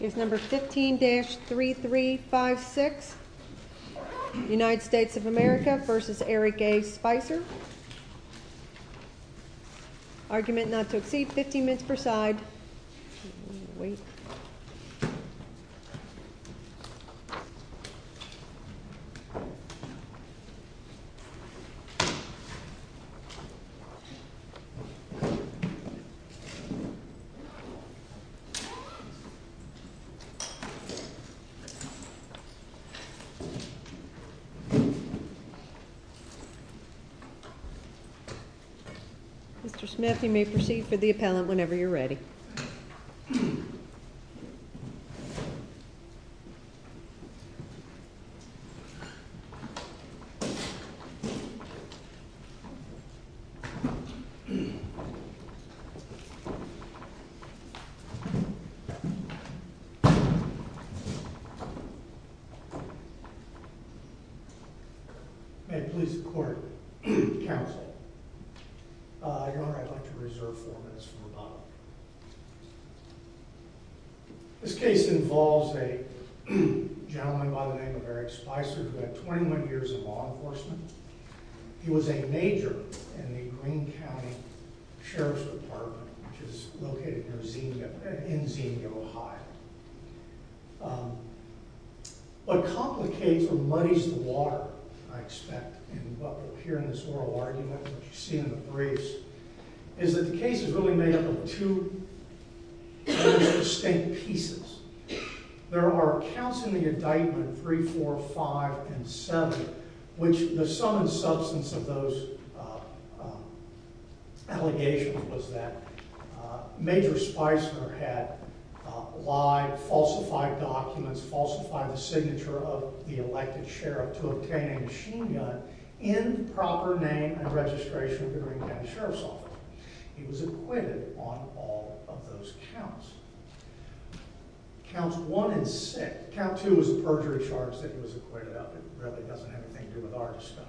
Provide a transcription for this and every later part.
15-3356 United States v. Eric A. Spicer Argument not to exceed 15 minutes per side. Mr. Smith, you may proceed for the appellant whenever you're ready. May it please the court, counsel, Your Honor, I'd like to reserve four minutes for rebuttal. This case involves a gentleman by the name of Eric Spicer who had 21 years in law enforcement. He was a major in the Greene County Sheriff's Department, which is located in Zemia, Ohio. What complicates or muddies the water, I expect, and what will appear in this oral argument, which you see in the briefs, is that the case is really made up of two distinct pieces. There are counts in the indictment, 3, 4, 5, and 7, which the sum and substance of those allegations was that Major Spicer had lied, falsified documents, falsified the signature of the elected sheriff to obtain a machine gun in proper name and registration with the Greene County Sheriff's Office. He was acquitted on all of those counts. Counts 1 and 6, count 2 was a perjury charge that he was acquitted of. It really doesn't have anything to do with our discussion.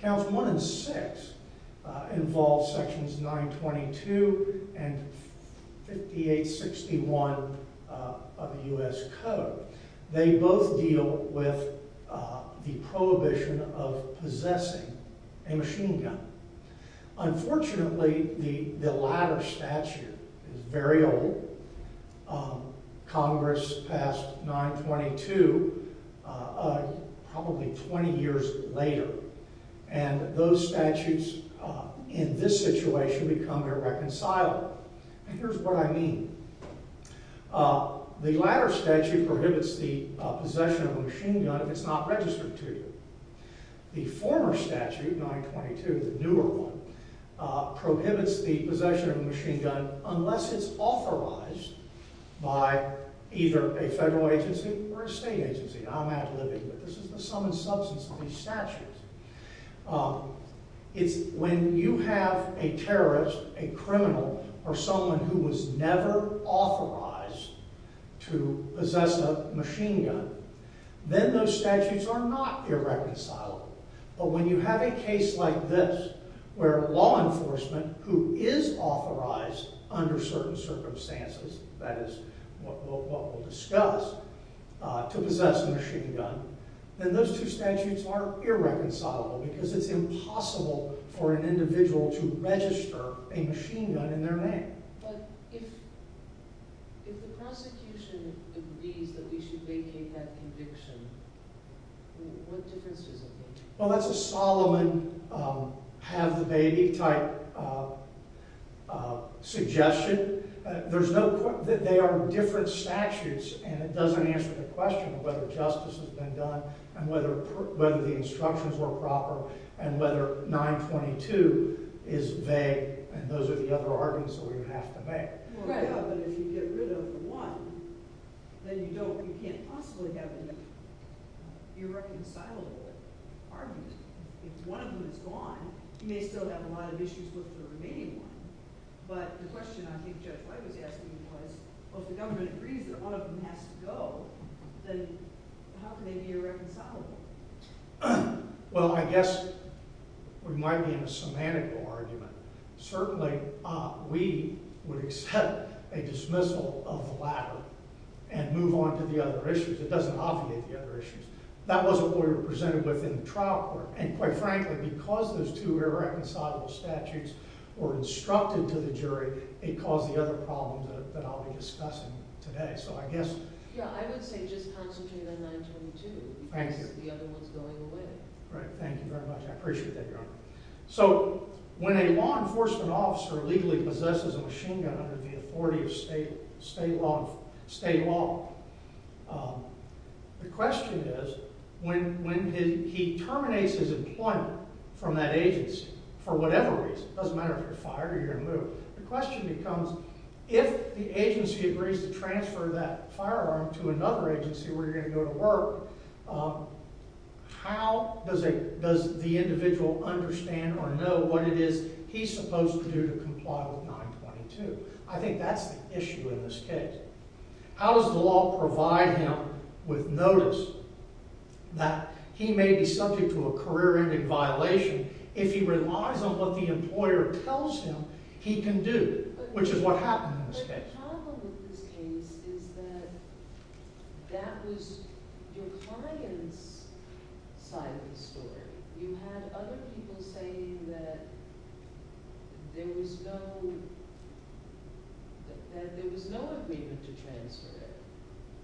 Counts 1 and 6 involve sections 922 and 5861 of the U.S. Code. They both deal with the prohibition of possessing a machine gun. Unfortunately, the latter statute is very old. Congress passed 922 probably 20 years later, and those statutes in this situation become irreconcilable. Here's what I mean. The latter statute prohibits the possession of a machine gun if it's not registered to you. The former statute, 922, the newer one, prohibits the possession of a machine gun unless it's authorized by either a federal agency or a state agency. I'm ad libbing, but this is the sum and substance of these statutes. When you have a terrorist, a criminal, or someone who was never authorized to possess a machine gun, then those statutes are not irreconcilable. But when you have a case like this where law enforcement, who is authorized under certain circumstances, that is what we'll discuss, to possess a machine gun, then those two statutes are irreconcilable because it's impossible for an individual to register a machine gun in their name. But if the prosecution agrees that we should vacate that conviction, what difference does it make? Well, that's a Solomon have the baby type suggestion. They are different statutes, and it doesn't answer the question of whether justice has been done and whether the instructions were proper and whether 922 is vague, and those are the other arguments that we would have to make. But if you get rid of one, then you can't possibly have an irreconcilable argument. If one of them is gone, you may still have a lot of issues with the remaining one. But the question I think Judge White was asking was, well, if the government agrees that one of them has to go, then how can they be irreconcilable? Well, I guess we might be in a semantical argument. Certainly, we would accept a dismissal of the latter and move on to the other issues. It doesn't obviate the other issues. That wasn't the way we were presented within the trial court, and quite frankly, because those two irreconcilable statutes were instructed to the jury, it caused the other problems that I'll be discussing today. So I guess— Yeah, I would say just concentrate on 922. Thank you. Because the other one's going away. Right. Thank you very much. I appreciate that, Your Honor. So when a law enforcement officer legally possesses a machine gun under the authority of state law, the question is, when he terminates his employment from that agency for whatever reason, it doesn't matter if you're fired or you're removed, the question becomes, if the agency agrees to transfer that firearm to another agency where you're going to go to work, how does the individual understand or know what it is he's supposed to do to comply with 922? I think that's the issue in this case. How does the law provide him with notice that he may be subject to a career-ending violation if he relies on what the employer tells him he can do, which is what happened in this case? The problem with this case is that that was your client's side of the story. You had other people saying that there was no agreement to transfer it,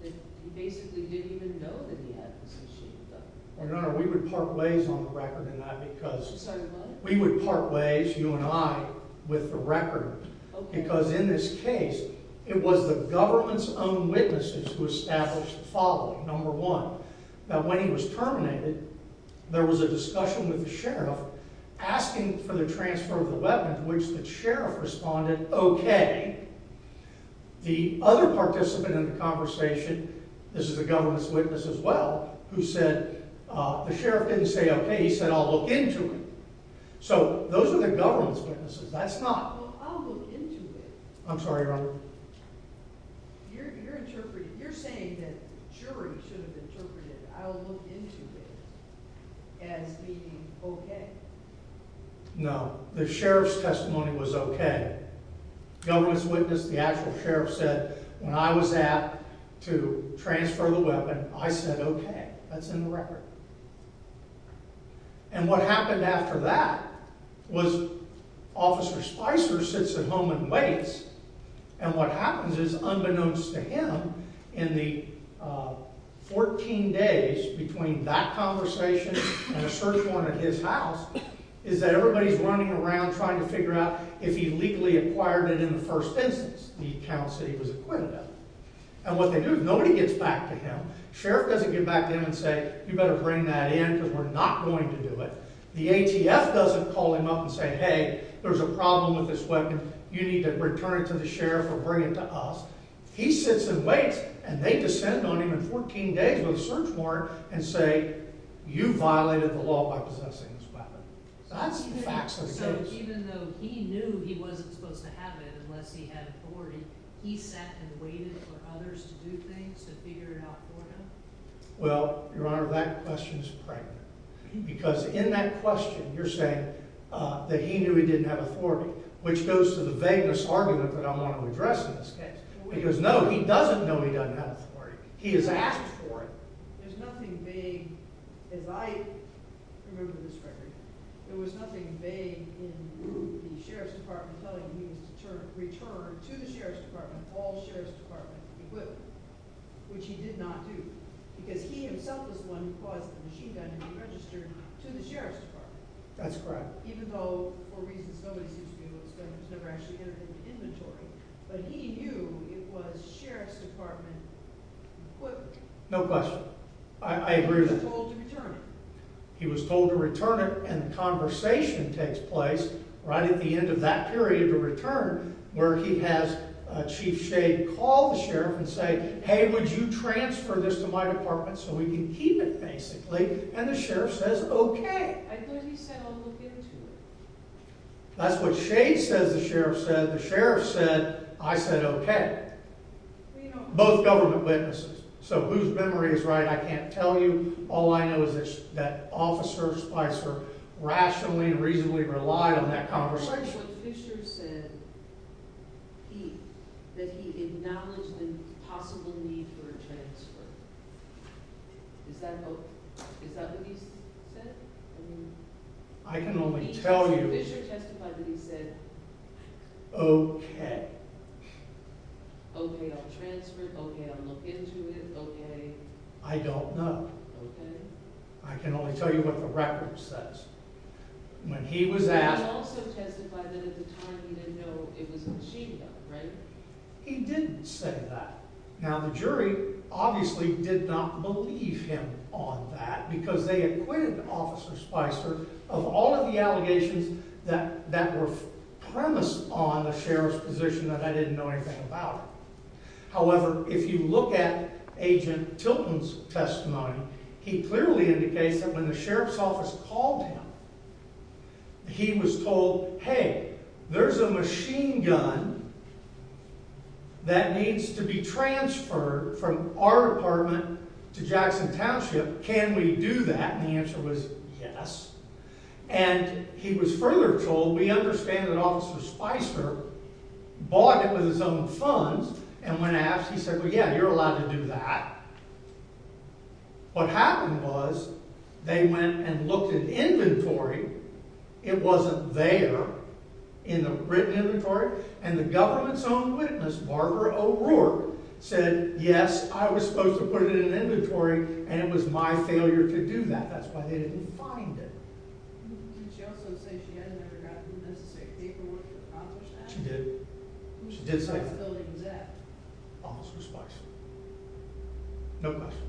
that he basically didn't even know that he had this machine gun. Your Honor, we would part ways on the record in that because— Sorry, what? We would part ways, you and I, with the record. Okay. Because in this case, it was the government's own witnesses who established the following. Number one, that when he was terminated, there was a discussion with the sheriff asking for the transfer of the weapon to which the sheriff responded, okay. The other participant in the conversation—this is the government's witness as well— who said the sheriff didn't say, okay, he said, I'll look into it. So those are the government's witnesses. That's not— I'm sorry, Your Honor. You're interpreting—you're saying that the jury should have interpreted I'll look into it as being okay. No. The sheriff's testimony was okay. The government's witness, the actual sheriff, said when I was asked to transfer the weapon, I said okay. That's in the record. And what happened after that was Officer Spicer sits at home and waits and what happens is, unbeknownst to him, in the 14 days between that conversation and a search warrant at his house, is that everybody's running around trying to figure out if he legally acquired it in the first instance, the accounts that he was acquitted of. And what they do is nobody gets back to him. The sheriff doesn't get back to him and say, you better bring that in because we're not going to do it. The ATF doesn't call him up and say, hey, there's a problem with this weapon. You need to return it to the sheriff or bring it to us. He sits and waits and they descend on him in 14 days with a search warrant and say, you violated the law by possessing this weapon. That's the facts of the case. So even though he knew he wasn't supposed to have it unless he had authority, he sat and waited for others to do things to figure it out for him? Well, Your Honor, that question is pregnant. Because in that question, you're saying that he knew he didn't have authority, which goes to the vagueness argument that I want to address in this. Because no, he doesn't know he doesn't have authority. He has asked for it. There's nothing vague as I remember this, Gregory. There was nothing vague in the group, the sheriff's department, telling him he was to return to the sheriff's department all sheriff's department equipment, which he did not do because he himself is the one who caused the machine gun to be registered to the sheriff's department. That's correct. Even though for reasons nobody seems to do, it was never actually in the inventory. But he knew it was sheriff's department equipment. No question. I agree with that. He was told to return it. He was told to return it, and the conversation takes place right at the end of that period of return where he has Chief Shade call the sheriff and say, hey, would you transfer this to my department so we can keep it, basically? And the sheriff says, okay. I thought he said, I'll look into it. That's what Shade says the sheriff said. The sheriff said, I said, okay. Both government witnesses. So whose memory is right, I can't tell you. All I know is that Officer Spicer rationally and reasonably relied on that conversation. I'm wondering what Fisher said that he acknowledged the possible need for a transfer. Is that what he said? I can only tell you. Fisher testified that he said, okay. Okay, I'll transfer it. Okay, I'll look into it. Okay. I don't know. Okay. I can only tell you what the record says. When he was asked. He didn't say that. Now the jury obviously did not believe him on that because they acquitted Officer Spicer of all of the allegations that were premised on the sheriff's position that I didn't know anything about. He clearly indicates that when the sheriff's office called him. He was told, hey, there's a machine gun that needs to be transferred from our department to Jackson Township. Can we do that? And the answer was yes. And he was further told, we understand that Officer Spicer bought it with his own funds. And when asked, he said, well, yeah, you're allowed to do that. What happened was they went and looked at inventory. It wasn't there in the written inventory. And the government's own witness, Barbara O'Rourke, said, yes, I was supposed to put it in an inventory. And it was my failure to do that. That's why they didn't find it. She did. She did say that. Officer Spicer. No question.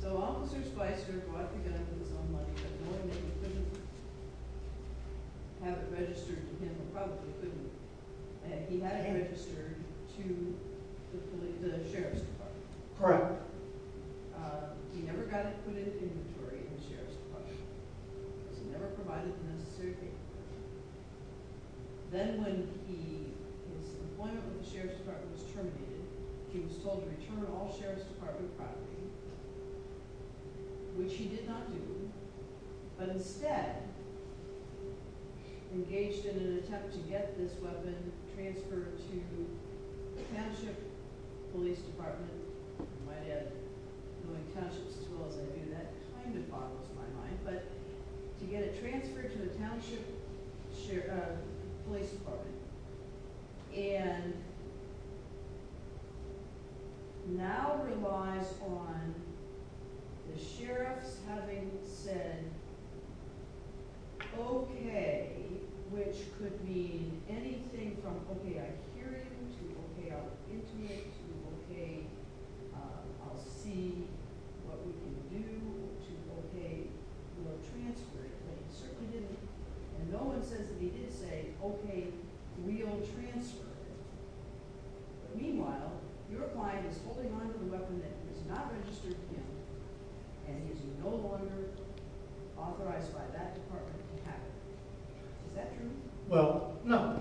So Officer Spicer bought the gun with his own money, but knowing that he couldn't have it registered to him, he probably couldn't, and he had it registered to the sheriff's department. Correct. He never got it put into inventory in the sheriff's department. So he never provided the necessary paperwork. Then when his appointment with the sheriff's department was terminated, he was told to return all sheriff's department property, which he did not do, but instead engaged in an attempt to get this weapon transferred to the township police department. My dad knowing townships as well as I do, that kind of boggles my mind. But to get it transferred to the township police department. And now relies on the sheriff's having said okay, which could mean anything from okay, I hear you, to okay, I'll get to it, to okay, I'll see what we can do, to okay, we'll transfer it. And no one says that he did say okay, we'll transfer it. Meanwhile, your client is holding on to the weapon that is not registered to him, and he is no longer authorized by that department to have it. Is that true? Well, no.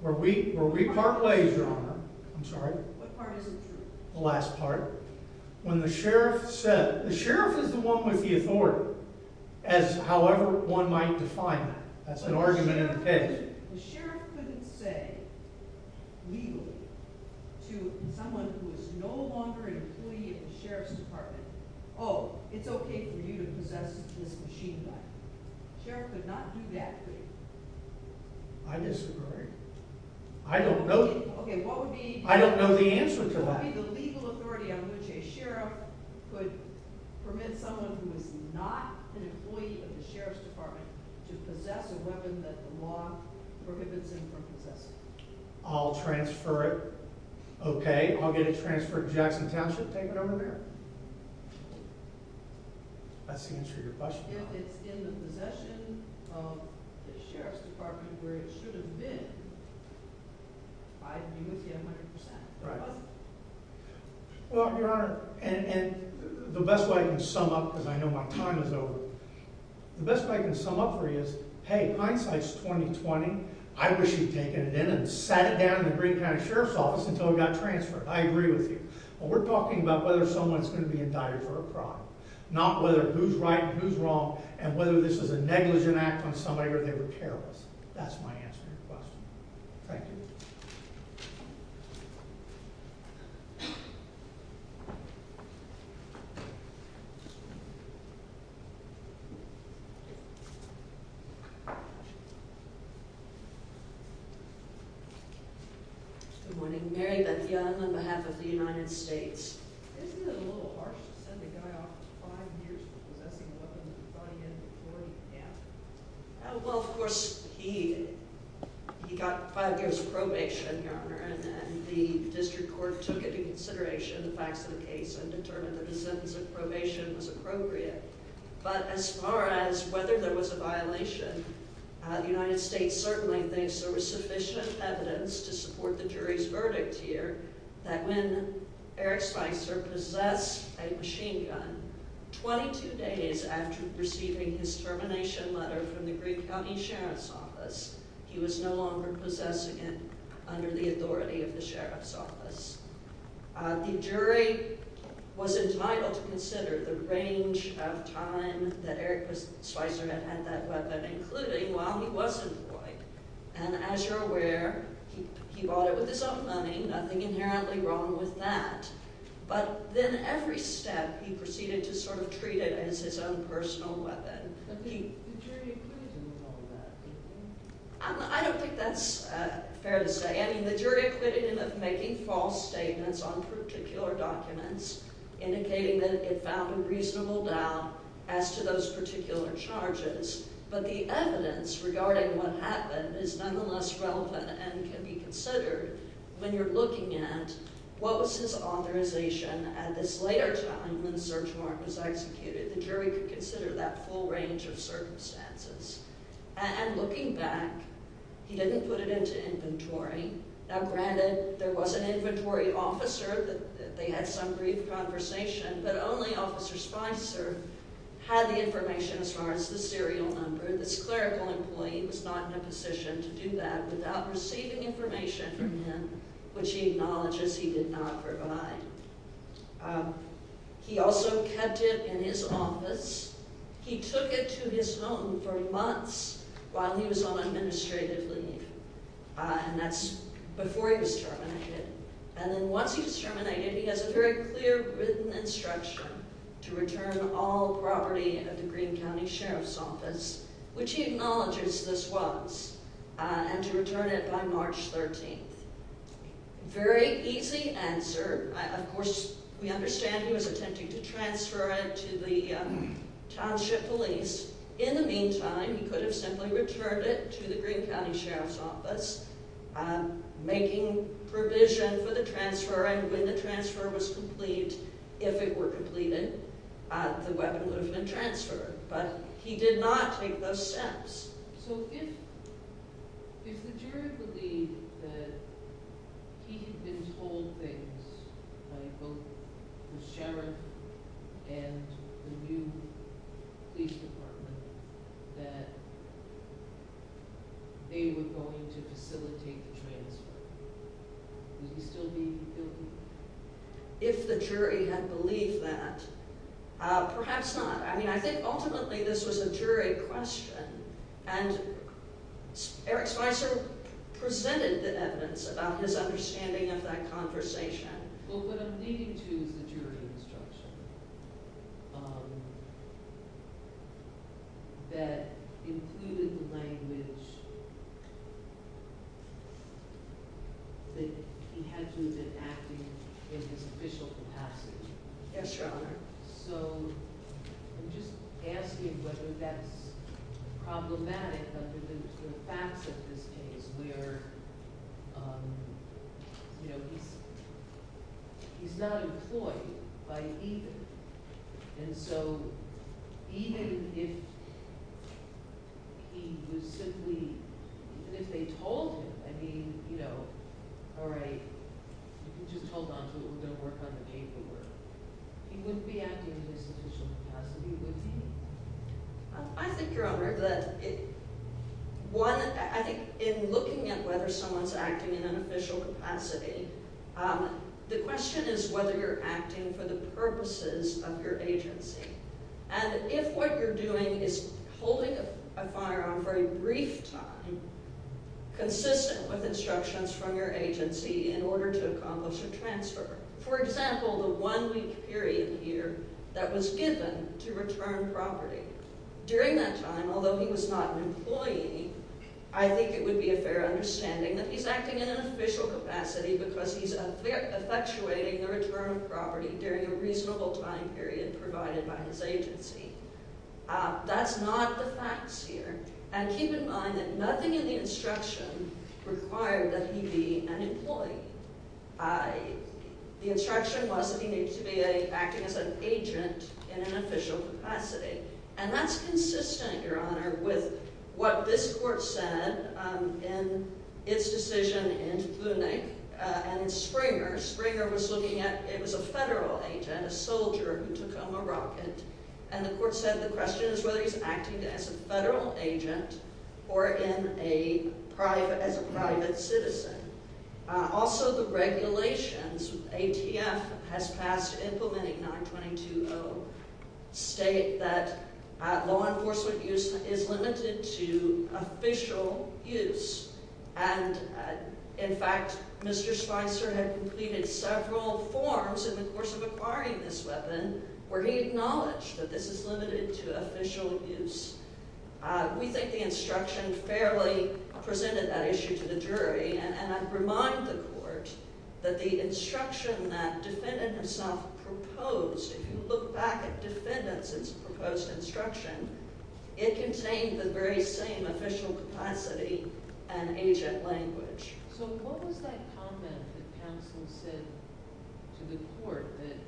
Where we part ways, Your Honor. I'm sorry. What part isn't true? The last part. When the sheriff said, the sheriff is the one with the authority, as however one might define that. That's an argument in the case. The sheriff couldn't say legally to someone who is no longer an employee of the sheriff's department, oh, it's okay for you to possess this machine gun. The sheriff could not do that to you. I disagree. I don't know. Okay, what would be- I don't know the answer to that. What would be the legal authority on which a sheriff could permit someone who is not an employee of the sheriff's department to possess a weapon that the law prohibits him from possessing? I'll transfer it. Okay, I'll get it transferred to Jackson Township, take it over there. That's the answer to your question. If it's in the possession of the sheriff's department where it should have been, I agree with you 100%. Well, Your Honor, and the best way I can sum up, because I know my time is over, the best way I can sum up for you is, hey, hindsight's 20-20. I wish you'd taken it in and sat it down in the Green County Sheriff's Office until it got transferred. I agree with you. But we're talking about whether someone's going to be indicted for a crime, not whether who's right and who's wrong, and whether this is a negligent act on somebody where they were careless. That's my answer to your question. Thank you. Thank you. Good morning. Mary Beth Young on behalf of the United States. Isn't it a little harsh to send a guy off five years for possessing a weapon and brought him in before he can act? Well, of course, he got five years probation, Your Honor, and the district court took into consideration the facts of the case and determined that his sentence of probation was appropriate. But as far as whether there was a violation, the United States certainly thinks there was sufficient evidence to support the jury's verdict here that when Eric Spicer possessed a machine gun, 22 days after receiving his termination letter from the Green County Sheriff's Office, he was no longer possessing it under the authority of the Sheriff's Office. The jury was entitled to consider the range of time that Eric Spicer had had that weapon, including while he was employed. And as you're aware, he bought it with his own money. Nothing inherently wrong with that. But then every step, he proceeded to sort of treat it as his own personal weapon. The jury acquitted him of all that, do you think? I don't think that's fair to say. I mean, the jury acquitted him of making false statements on particular documents, indicating that it found a reasonable doubt as to those particular charges. But the evidence regarding what happened is nonetheless relevant and can be considered when you're looking at what was his authorization at this later time when the search warrant was executed. The jury could consider that full range of circumstances. And looking back, he didn't put it into inventory. Now, granted, there was an inventory officer. They had some brief conversation. But only Officer Spicer had the information as far as the serial number. This clerical employee was not in a position to do that without receiving information from him, which he acknowledges he did not provide. He also kept it in his office. He took it to his home for months while he was on administrative leave, and that's before he was terminated. And then once he was terminated, he has a very clear written instruction to return all property of the Greene County Sheriff's Office, which he acknowledges this was, and to return it by March 13th. Very easy answer. Of course, we understand he was attempting to transfer it to the township police. In the meantime, he could have simply returned it to the Greene County Sheriff's Office, making provision for the transfer, and when the transfer was complete, if it were completed, the weapon would have been transferred. But he did not take those steps. So if the jury believed that he had been told things by both the sheriff and the new police department that they were going to facilitate the transfer, would he still be guilty? If the jury had believed that, perhaps not. I mean, I think ultimately this was a jury question, and Eric Spicer presented the evidence about his understanding of that conversation. But what I'm leading to is a jury instruction that included the language that he had to have been acting in his official capacity. Yes, Your Honor. So I'm just asking whether that's problematic under the facts of this case, where he's not employed by either. And so even if he was simply – even if they told him, I mean, you know, all right, you can just hold on to it. We're going to work on the paperwork. He wouldn't be acting in his official capacity, would he? I think, Your Honor, that one – I think in looking at whether someone's acting in an official capacity, the question is whether you're acting for the purposes of your agency. And if what you're doing is holding a firearm for a brief time, consistent with instructions from your agency in order to accomplish a transfer. For example, the one-week period here that was given to return property. During that time, although he was not an employee, I think it would be a fair understanding that he's acting in an official capacity because he's effectuating the return of property during a reasonable time period provided by his agency. That's not the facts here. And keep in mind that nothing in the instruction required that he be an employee. The instruction was that he needed to be acting as an agent in an official capacity. And that's consistent, Your Honor, with what this court said in its decision in Vunich. And Springer – Springer was looking at – it was a federal agent, a soldier who took home a rocket. And the court said the question is whether he's acting as a federal agent or in a private – as a private citizen. Also, the regulations ATF has passed implementing 922.0 state that law enforcement use is limited to official use. And, in fact, Mr. Spicer had completed several forms in the course of acquiring this weapon where he acknowledged that this is limited to official use. We think the instruction fairly presented that issue to the jury. And I remind the court that the instruction that defendant himself proposed, if you look back at defendant's proposed instruction, it contained the very same official capacity and agent language. So what was that comment that counsel said to the court that –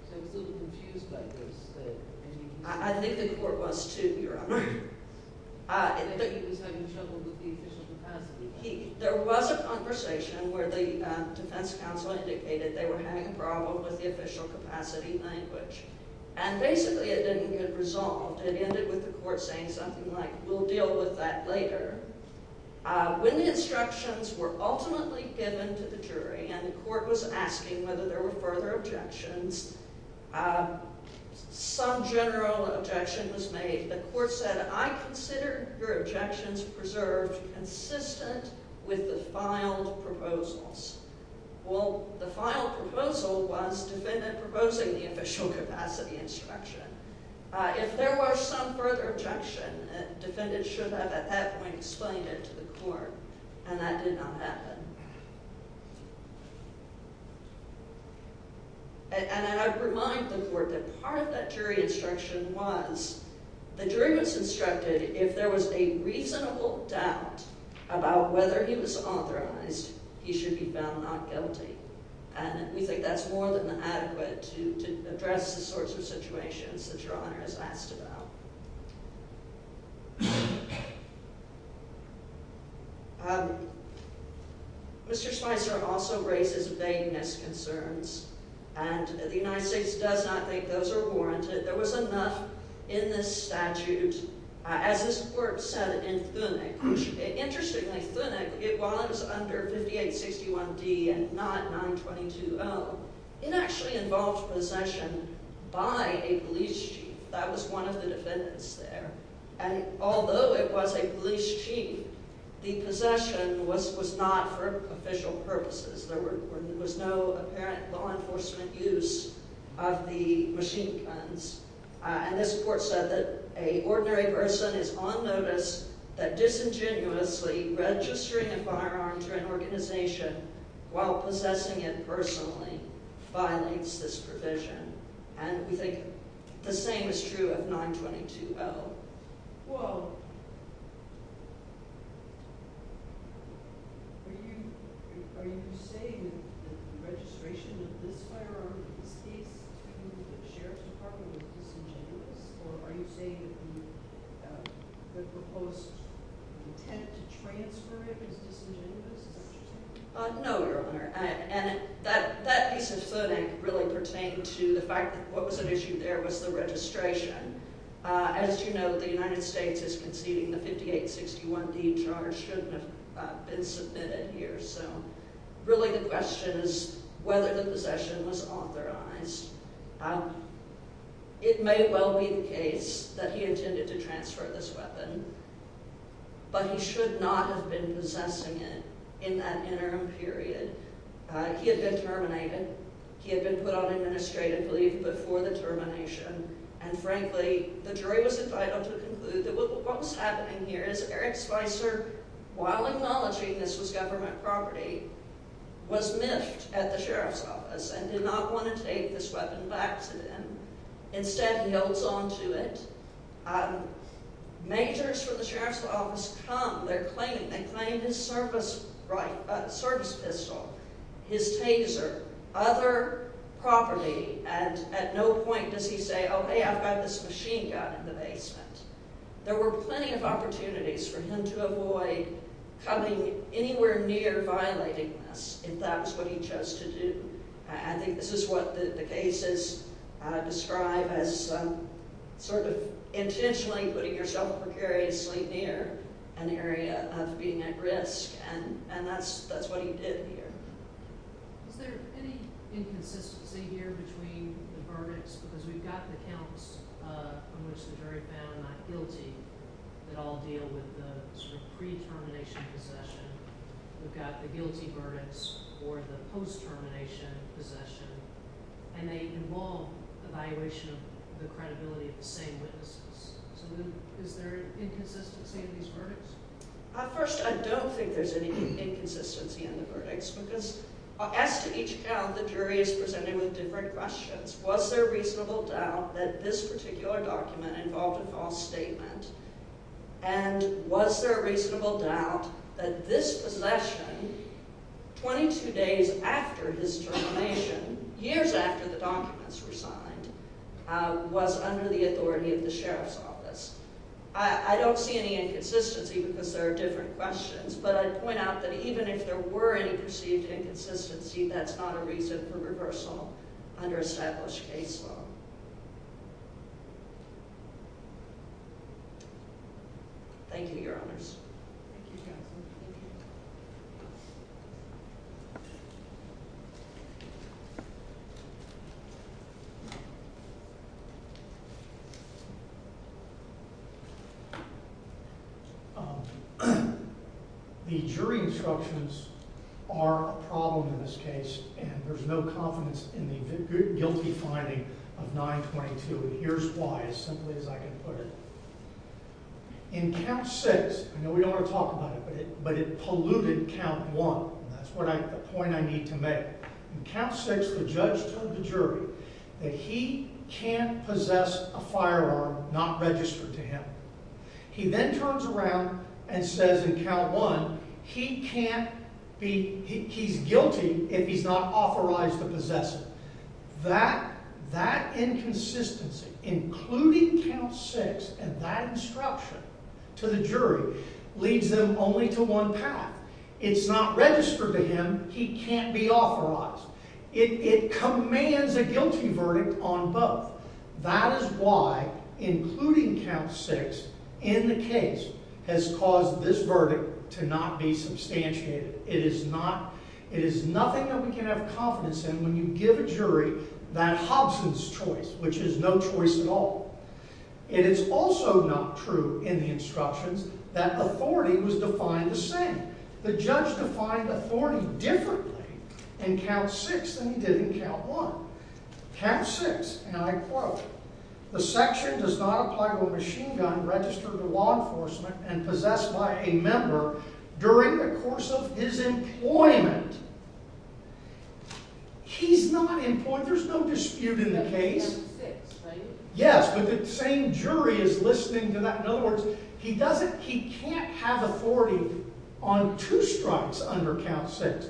because I was a little confused by this – I think the court was too, Your Honor. He was having trouble with the official capacity. There was a conversation where the defense counsel indicated they were having a problem with the official capacity language. And, basically, it didn't get resolved. It ended with the court saying something like, we'll deal with that later. When the instructions were ultimately given to the jury and the court was asking whether there were further objections, some general objection was made. The court said, I consider your objections preserved consistent with the filed proposals. Well, the filed proposal was defendant proposing the official capacity instruction. If there were some further objection, defendant should have at that point explained it to the court. And that did not happen. And I'd remind the court that part of that jury instruction was the jury was instructed if there was a reasonable doubt about whether he was authorized, he should be found not guilty. And we think that's more than adequate to address the sorts of situations that Your Honor has asked about. Mr. Spicer also raises vagueness concerns. And the United States does not think those are warranted. There was enough in this statute, as this court said in Thunek. Interestingly, Thunek, while it was under 5861D and not 922O, it actually involved possession by a police chief. That was one of the defendants there. And although it was a police chief, the possession was not for official purposes. There was no apparent law enforcement use of the machine guns. And this court said that an ordinary person is on notice that disingenuously registering a firearm to an organization while possessing it personally violates this provision. And we think the same is true of 922O. Well, are you saying that the registration of this firearm in this case to the Sheriff's Department was disingenuous? Or are you saying that the proposed intent to transfer it is disingenuous? Is that what you're saying? No, Your Honor. And that piece of Thunek really pertained to the fact that what was at issue there was the registration. As you know, the United States is conceding the 5861D charge shouldn't have been submitted here. So really the question is whether the possession was authorized. It may well be the case that he intended to transfer this weapon, but he should not have been possessing it in that interim period. He had been terminated. He had been put on administrative leave before the termination. And, frankly, the jury was entitled to conclude that what was happening here is Eric Spicer, while acknowledging this was government property, was miffed at the Sheriff's Office and did not want to take this weapon back to them. Instead, he holds on to it. Majors from the Sheriff's Office come. They claim his service pistol, his taser, other property, and at no point does he say, oh, hey, I've got this machine gun in the basement. There were plenty of opportunities for him to avoid coming anywhere near violating this if that was what he chose to do. I think this is what the cases describe as sort of intentionally putting yourself precariously near an area of being at risk, and that's what he did here. Is there any inconsistency here between the verdicts? Because we've got the counts from which the jury found not guilty that all deal with the sort of pre-termination possession. We've got the guilty verdicts or the post-termination possession, and they involve evaluation of the credibility of the same witnesses. So is there an inconsistency in these verdicts? First, I don't think there's any inconsistency in the verdicts because as to each count, the jury is presented with different questions. Was there reasonable doubt that this particular document involved a false statement? And was there a reasonable doubt that this possession, 22 days after his termination, years after the documents were signed, was under the authority of the sheriff's office? I don't see any inconsistency because there are different questions, but I'd point out that even if there were any perceived inconsistency, that's not a reason for reversal under established case law. Thank you, Your Honors. The jury instructions are a problem in this case, and there's no confidence in the guilty finding of 922. Here's why, as simply as I can put it. In count 6, I know we don't want to talk about it, but it polluted count 1. That's the point I need to make. In count 6, the judge told the jury that he can't possess a firearm not registered to him. He then turns around and says in count 1, he's guilty if he's not authorized to possess it. That inconsistency, including count 6 and that instruction to the jury, leads them only to one path. It's not registered to him. He can't be authorized. It commands a guilty verdict on both. That is why, including count 6 in the case, has caused this verdict to not be substantiated. It is nothing that we can have confidence in. When you give a jury that Hobson's choice, which is no choice at all, it is also not true in the instructions that authority was defined the same. The judge defined authority differently in count 6 than he did in count 1. Count 6, and I quote, the section does not apply to a machine gun registered to law enforcement and possessed by a member during the course of his employment. He's not employed. There's no dispute in the case. Yes, but the same jury is listening to that. In other words, he can't have authority on two strikes under count 6.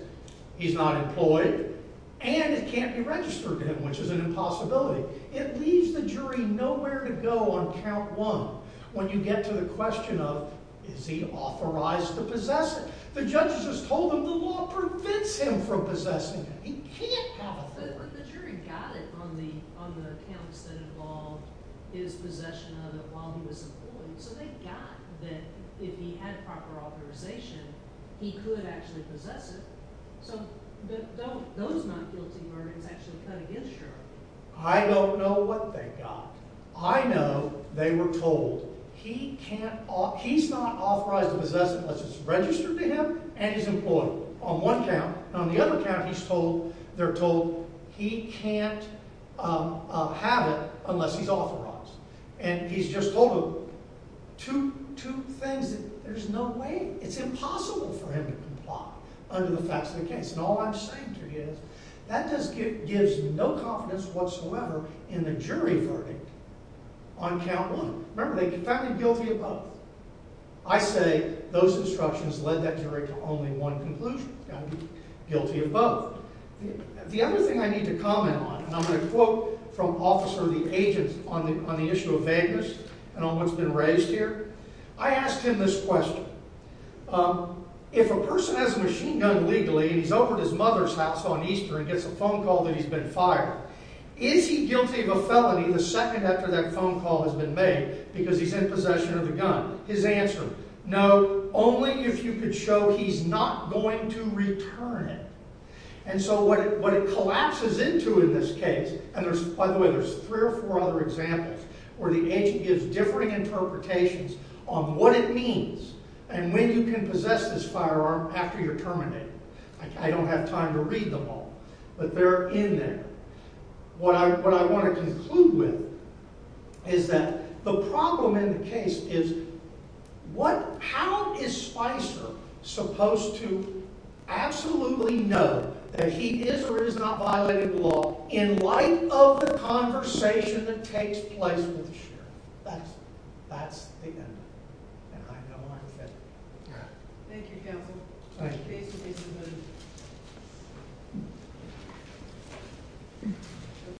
He's not employed, and it can't be registered to him, which is an impossibility. It leaves the jury nowhere to go on count 1 when you get to the question of is he authorized to possess it. The judge has told them the law prevents him from possessing it. He can't have authority. But the jury got it on the counts that involved his possession of it while he was employed, so they got that if he had proper authorization, he could actually possess it. So those not guilty verdicts actually cut against Jury. I don't know what they got. I know they were told he's not authorized to possess it because it's registered to him and he's employed on one count. On the other count, they're told he can't have it unless he's authorized. And he's just told two things. There's no way. It's impossible for him to comply under the facts of the case. And all I'm saying to you is that just gives no confidence whatsoever in the jury verdict on count 1. Remember, they found him guilty of both. I say those instructions led that jury to only one conclusion, guilty of both. The other thing I need to comment on, and I'm going to quote from Officer the Agent on the issue of vagueness and on what's been raised here. I asked him this question. If a person has a machine gun legally and he's over at his mother's house on Easter and gets a phone call that he's been fired, is he guilty of a felony the second after that phone call has been made because he's in possession of the gun? His answer, no, only if you could show he's not going to return it. And so what it collapses into in this case, and by the way, there's three or four other examples where the agent gives differing interpretations on what it means and when you can possess this firearm after you're terminated. I don't have time to read them all, but they're in there. What I want to conclude with is that the problem in the case is how is Spicer supposed to absolutely know that he is or is not violating the law in light of the conversation that takes place with the sheriff? That's the end of it. And I know I'm finished. Thank you, counsel. Thank you.